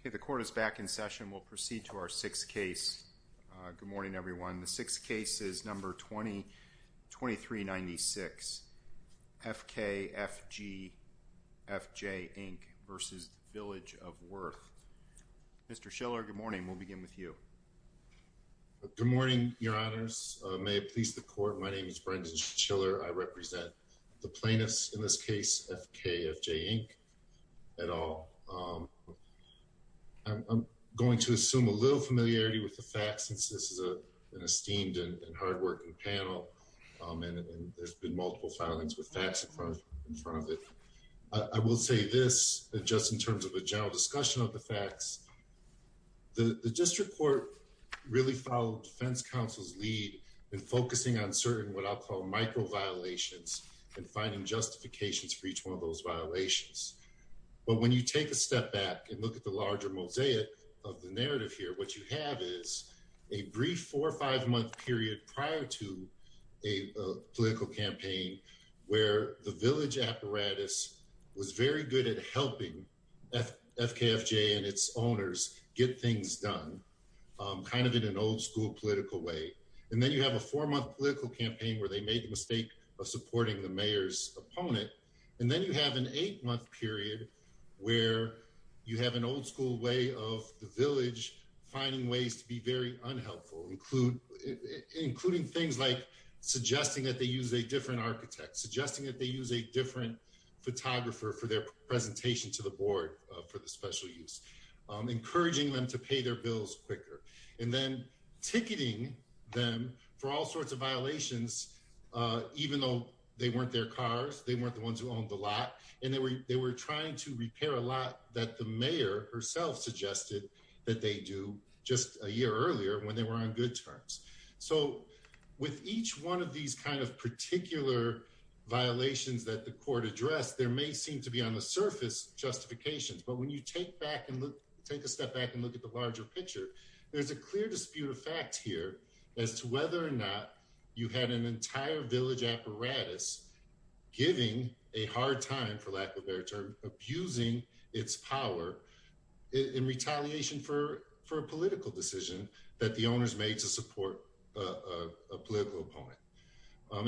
Okay, the court is back in session. We'll proceed to our sixth case. Good morning, everyone. The sixth case is number 2023-96, FKFGFJ, INC. v. Village of Worth. Mr. Schiller, good morning. We'll begin with you. Good morning, your honors. May it please the court. My name is Brendan Schiller. I represent the plaintiffs in this case, FKFJ, INC. at all. I'm going to assume a little familiarity with the facts since this is an esteemed and hard-working panel, and there's been multiple filings with facts in front of it. I will say this, just in terms of a general discussion of the facts, the district court really followed defense counsel's lead in focusing on certain what I'll call micro-violations and finding justifications for each one of those violations. But when you take a step back and look at the larger mosaic of the narrative here, what you have is a brief four- or five-month period prior to a political campaign where the village apparatus was very good at helping FKFJ and its owners get things done, kind of in an old-school political way. And then you have a four-month political campaign where they made the mistake of supporting the mayor's opponent. And then you have an eight-month period where you have an old-school way of the village finding ways to be very unhelpful, including things like suggesting that they use a different architect, suggesting that they use a different photographer for their presentation to the board for the special use, encouraging them to pay their bills quicker, and then ticketing them for all sorts of violations even though they weren't their cars, they weren't the ones who owned the lot, and they were trying to repair a lot that the mayor herself suggested that they do just a year earlier when they were on good terms. So with each one of these kind of particular violations that the court addressed, there may seem to be on the surface justifications. But when you take a step back and look at the larger picture, there's a clear dispute of fact here as to whether or not you had an entire village apparatus giving a hard time, for lack of a better term, abusing its power in retaliation for a political decision that the owners made to support a political opponent.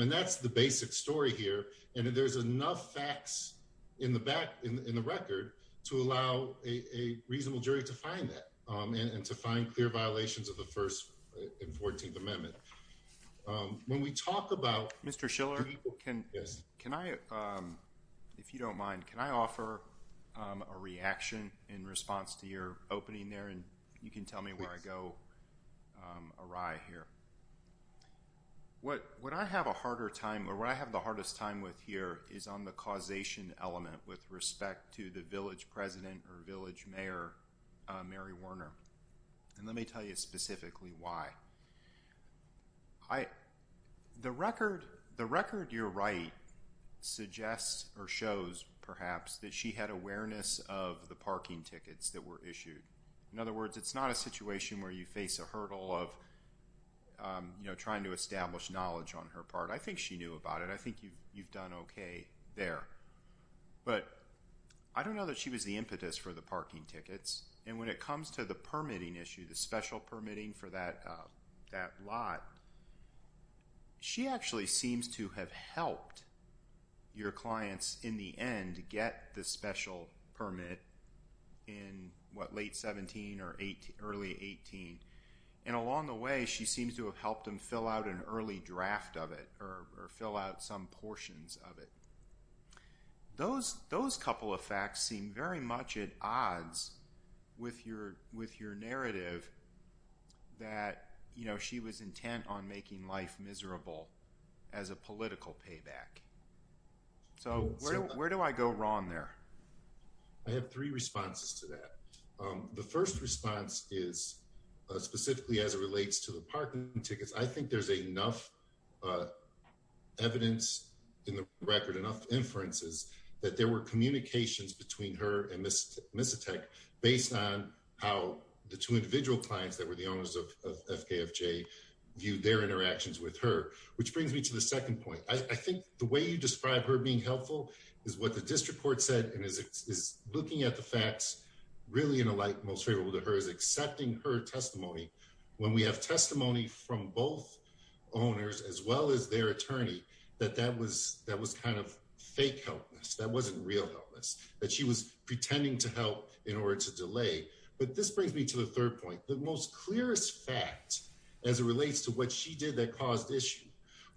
And that's the basic story here. And there's enough facts in the record to allow a reasonable jury to find that and to find clear violations of the First and Fourteenth Amendment. When we talk about... Mr. Schiller, can I, if you don't mind, can I offer a reaction in response to your opening there? And you can tell me where I go awry here. What I have a harder time or what I have the hardest time with here is on the causation element with respect to the village president or village mayor, Mary Werner. And let me tell you specifically why. The record you write suggests or shows, perhaps, that she had awareness of the parking tickets that were issued. In other words, it's not a situation where you face a hurdle of trying to establish knowledge on her part. I think she knew about it. I think you've done okay there. But I don't know that she was the impetus for the parking tickets. And when it comes to the permitting issue, the special permitting for that lot, she actually seems to have helped your clients, in the end, get the special permit in, what, late 17 or early 18. And along the way, she seems to have helped them fill out an early draft of it or fill out some portions of it. Those couple of facts seem very much at odds with your narrative that she was intent on making life miserable as a political payback. So where do I go wrong there? I have three responses to that. The first response is, specifically as it relates to the parking tickets, I think there's enough evidence in the record, enough inferences, that there were communications between her and Ms. Misetech based on how the two individual clients that were the owners of FKFJ viewed their interactions with her. Which brings me to the second point. I think the way you describe her being helpful is what the district court said and is looking at the facts, really in a light most favorable to her, is accepting her testimony. When we have testimony from both owners, as well as their attorney, that that was kind of fake helpless. That wasn't real helpless. That she was pretending to help in order to delay. But this brings me to the third point. The most clearest fact, as it relates to what she did that caused issue,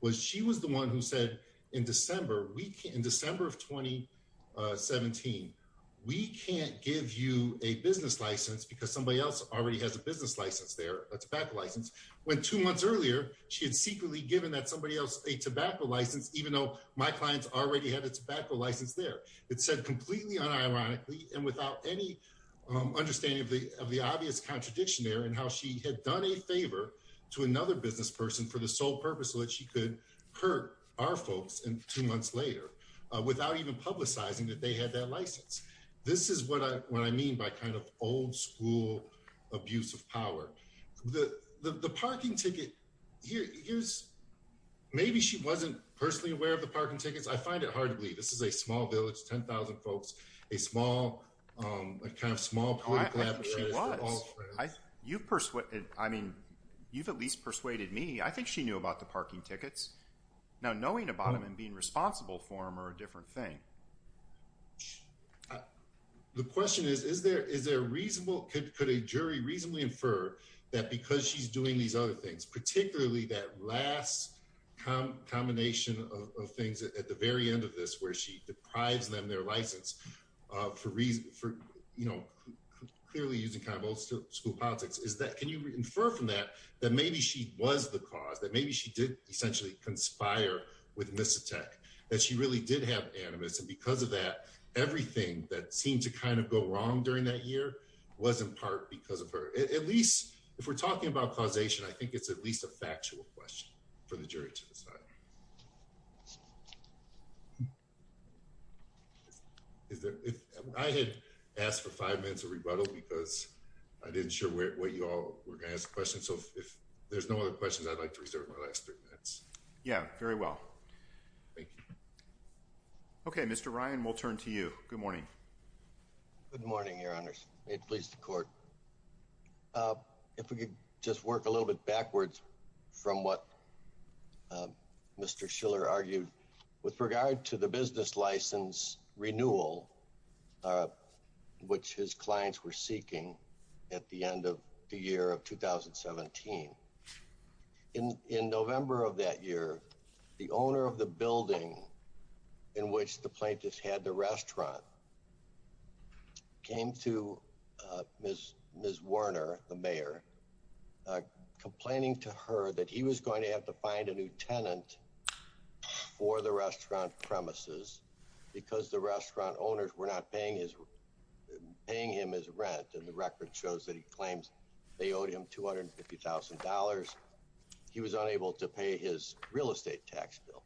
was she was the one who said in December of 2017, we can't give you a business license because somebody else already has a business license there, a tobacco license, when two months earlier, she had secretly given that somebody else a tobacco license, even though my clients already had a tobacco license there. It said completely unironically and without any understanding of the obvious contradiction there and how she had done a favor to another business person for the sole purpose so that she could hurt our folks two months later, without even publicizing that they had that license. This is what I mean by kind of old school abuse of power. The parking ticket, here's, maybe she wasn't personally aware of the parking tickets. I find it hard to believe. This is a small village, 10,000 folks, a small, a kind of small political apparatus. She was. You've persuaded, I mean, you've at least persuaded me. I think she knew about the parking tickets. Now, knowing about them and being responsible for them are a different thing. The question is, is there, is there a reasonable, could a jury reasonably infer that because she's doing these other things, particularly that last combination of things at the very end of this, where she deprives them their license for reason, for, you know, clearly using kind of old school politics, is that, can you infer from that, that maybe she was the cause, that maybe she did essentially conspire with Misotech, that she really did have animus, and because of that, everything that seemed to kind of go wrong during that year was in part because of her. At least, if we're talking about causation, I think it's at least a factual question for the jury to decide. I had asked for five minutes of rebuttal because I didn't share what you all were going to ask questions. So, if there's no other questions, I'd like to reserve my last three minutes. Yeah, very well. Thank you. Okay, Mr. Ryan, we'll turn to you. Good morning. Good morning, your honors. May it please the court. If we could just work a little bit backwards from what Mr. Schiller argued with regard to the business license renewal, which his clients were seeking at the end of the year of 2017. In November of that year, the owner of the building in which the plaintiffs had the restaurant came to Ms. Werner, the mayor, complaining to her that he was going to have to find a new tenant for the restaurant premises because the restaurant owners were not paying him his rent and the record shows that he claims they owed him $250,000. He was unable to pay his real estate tax bill.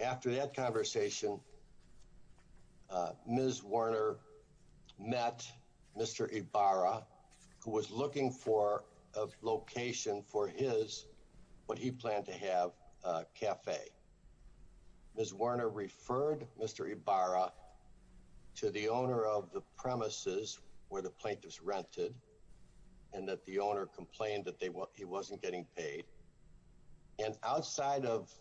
After that conversation, Ms. Werner met Mr. Ibarra, who was looking for a location for his, what he planned to have, cafe. Ms. Werner referred Mr. Ibarra to the owner of the premises where the plaintiffs rented and that the owner complained that he wasn't getting paid. And outside of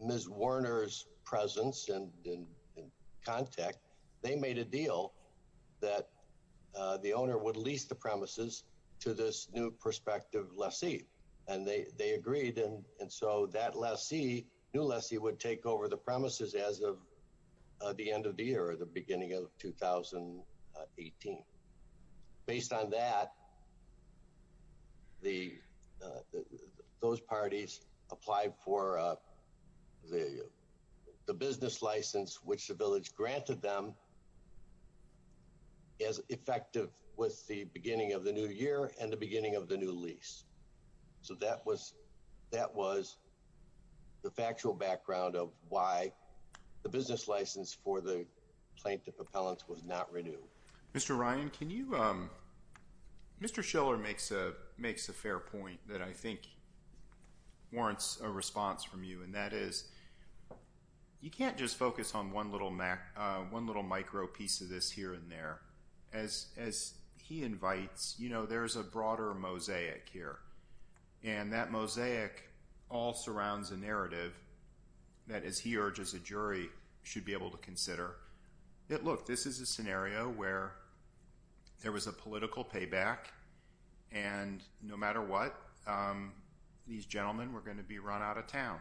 Ms. Werner's presence and contact, they made a deal that the owner would lease the premises to this new prospective lessee and they agreed. And so that new lessee would take over the premises as of the end of the year, the beginning of 2018. Based on that, those parties applied for the business license, which the village granted them as effective with the beginning of the new year and the beginning of the new lease. So that was the factual background of why the business license for the plaintiff appellants was not renewed. Mr. Ryan, can you, Mr. Schiller makes a fair point that I think warrants a response from you and that is you can't just focus on one little micro piece of this here and there. As he invites, you know, there's a broader mosaic here and that mosaic all surrounds a narrative that, as he urges a jury, should be able to consider. That look, this is a scenario where there was a political payback and no matter what, these gentlemen were going to be run out of town,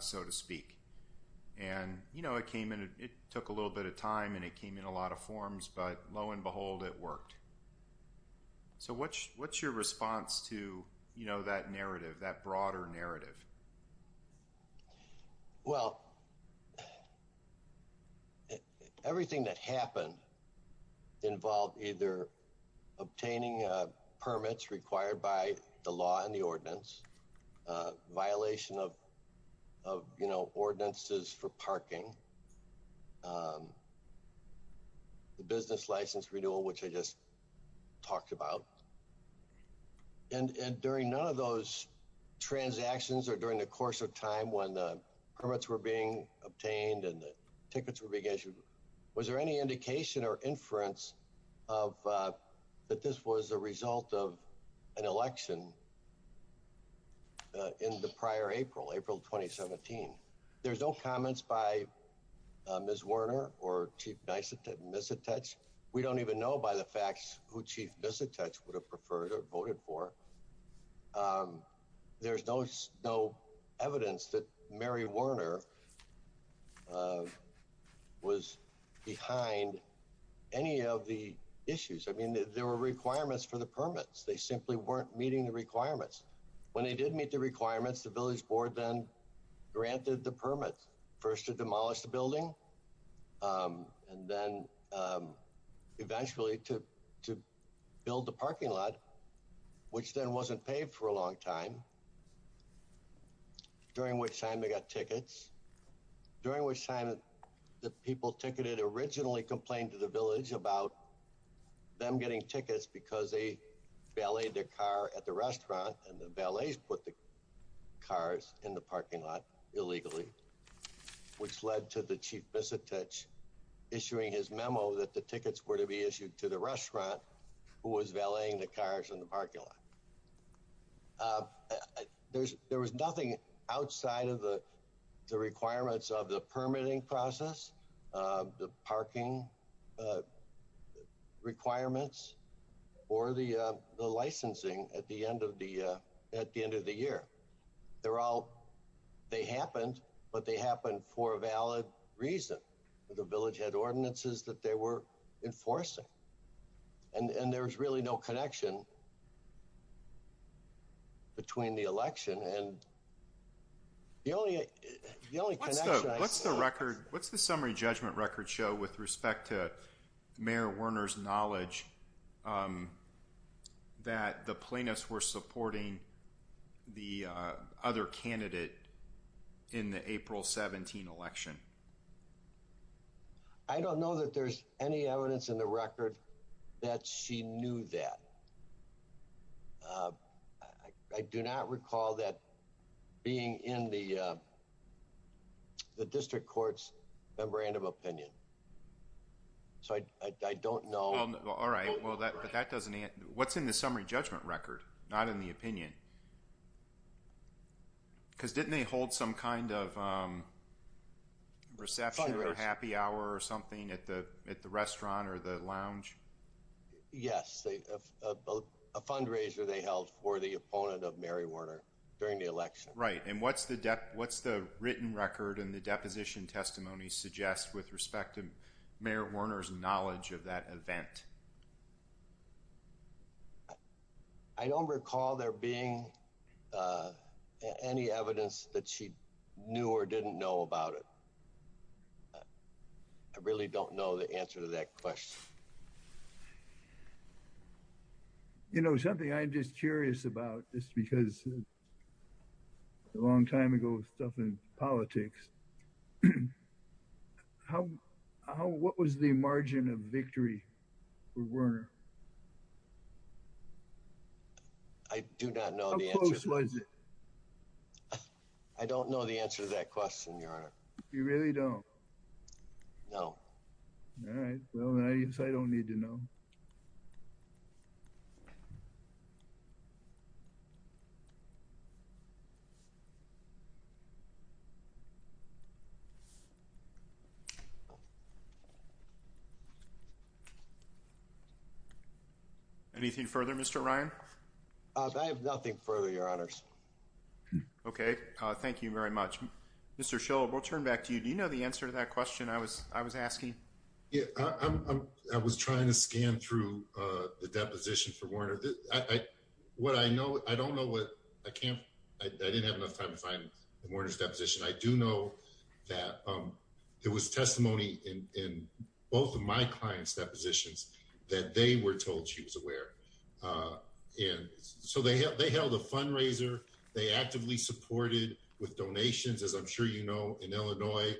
so to speak. And, you know, it came in, it took a little bit of time and it came in a lot of forms, but lo and behold, it worked. So what's your response to, you know, that narrative, that broader narrative? Well, everything that happened involved either obtaining permits required by the law and the ordinance, violation of, you know, ordinances for parking, the business license renewal, which I just talked about, and during none of those transactions or during the course of time when the permits were being obtained and the tickets were being issued, was there any indication or inference that this was a result of an election in the prior April, April 2017? There's no comments by Ms. Werner or Chief Misetich. We don't even know by the facts who Chief Misetich would have preferred or voted for. There's no evidence that Mary Werner was behind any of the issues. I mean, there were requirements for the permits. They simply weren't meeting the requirements. When they did meet the requirements, the Village Board then granted the permits, first to demolish the building and then eventually to build the parking lot, which then wasn't paid for a long time, during which time they got tickets, during which time the people ticketed originally complained to the Village about them getting tickets because they valeted their car at the restaurant and the valets put the cars in the parking lot illegally, which led to the Chief Misetich issuing his memo that the tickets were to be issued to the restaurant who was valeting the cars in the parking lot. There was nothing outside of the requirements of the permitting process, the parking requirements, or the licensing at the end of the year. They're all, they happened, but they happened for a valid reason. The Village had ordinances that they were enforcing and there was really no connection between the election. And the only connection I see... What's the record, what's the summary judgment record show with respect to Mayor Werner's knowledge that the plaintiffs were supporting the other candidate in the April 17 election? I don't know that there's any evidence in the record that she knew that. I do not recall that being in the District Court's Memorandum of Opinion. So I don't know... Well, all right, but that doesn't... What's in the summary judgment record, not in the opinion? Because didn't they hold some kind of reception or happy hour or something at the restaurant or the lounge? Yes, a fundraiser they held for the opponent of Mary Werner during the election. Right, and what's the written record and the deposition testimony suggest with respect to Mayor Werner's knowledge of that event? I don't recall there being any evidence that she knew or didn't know about it. I really don't know the answer to that question. You know, something I'm just curious about, just because a long time ago with stuff in politics, what was the margin of victory for Werner? I do not know the answer. How close was it? I don't know the answer to that question, Your Honor. You really don't? No. All right, well, I guess I don't need to know. Anything further, Mr. Ryan? I have nothing further, Your Honors. Okay, thank you very much. Mr. Schill, we'll turn back to you. Do you know the answer to that question I was asking? Yeah, I was trying to scan through the deposition for Werner. What I know, I don't know what, I can't, I didn't have enough time to find Werner's deposition. I do know that there was testimony in both of my clients' depositions that they were told she was aware. And so they held a fundraiser, they actively supported with donations, as I'm sure you know, in Illinois,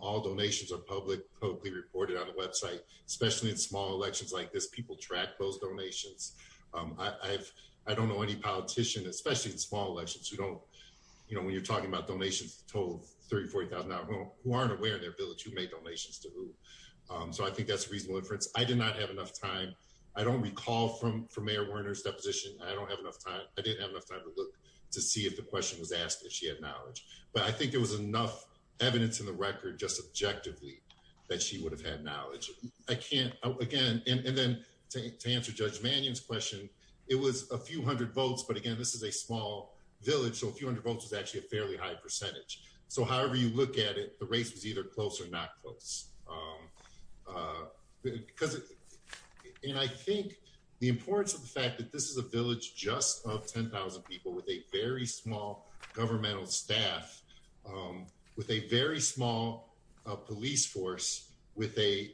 all donations are publicly reported on the website. Especially in small elections like this, people track those donations. I don't know any politician, especially in small elections, when you're talking about donations total of $30,000, $40,000, who aren't aware in their village who made donations to who. So I think that's a reasonable inference. I did not have enough time. I don't recall from Mayor Werner's deposition, I don't have enough time, I didn't have enough time to look to see if the question was asked, if she had knowledge. But I think there was enough evidence in the record just objectively that she would have had knowledge. I can't, again, and then to answer Judge Mannion's question, it was a few hundred votes, but again, this is a small village, so a few hundred votes is actually a fairly high percentage. So however you look at it, the race was either close or not close. Because, and I think the importance of the fact that this is a village just of 10,000 people with a very small governmental staff, with a very small police force, with a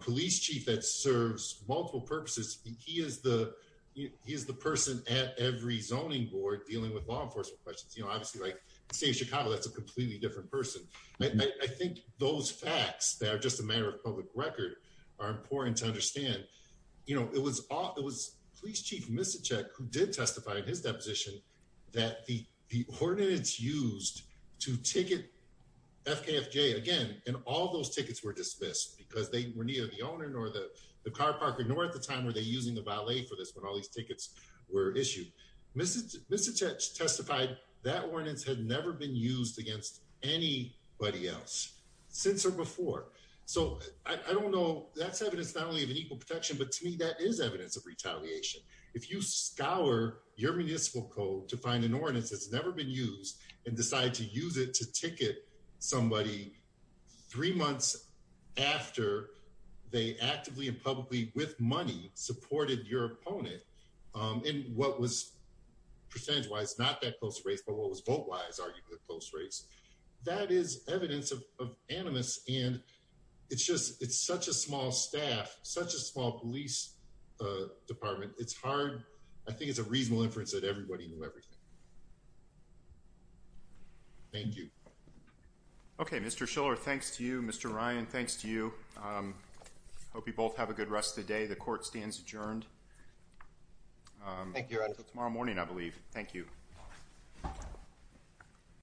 police chief that serves multiple purposes, and he is the person at every zoning board dealing with law enforcement questions. Obviously, in the state of Chicago, that's a completely different person. I think those facts, they are just a matter of public record, are important to understand. It was Police Chief Misicek who did testify in his deposition that the ordinance used to ticket FKFJ, again, and all those tickets were dismissed because they were neither the owner nor the car parker, nor at the time were they using the valet for this when all these tickets were issued. Misicek testified that ordinance had never been used against anybody else since or before. So I don't know, that's evidence not only of an equal protection, but to me, that is evidence of retaliation. If you scour your municipal code to find an ordinance that's never been used and decide to use it to ticket somebody three months after they actively and publicly with money supported your opponent in what was, percentage-wise, not that close race, but what was vote-wise, arguably, a close race, that is evidence of animus and it's such a small staff, such a small police department, it's hard, I think it's a reasonable inference that everybody knew everything. Thank you. Okay, Mr. Schiller, thanks to you. Mr. Ryan, thanks to you. Hope you both have a good rest of the day. The court stands adjourned. Thank you. Until tomorrow morning, I believe. Thank you.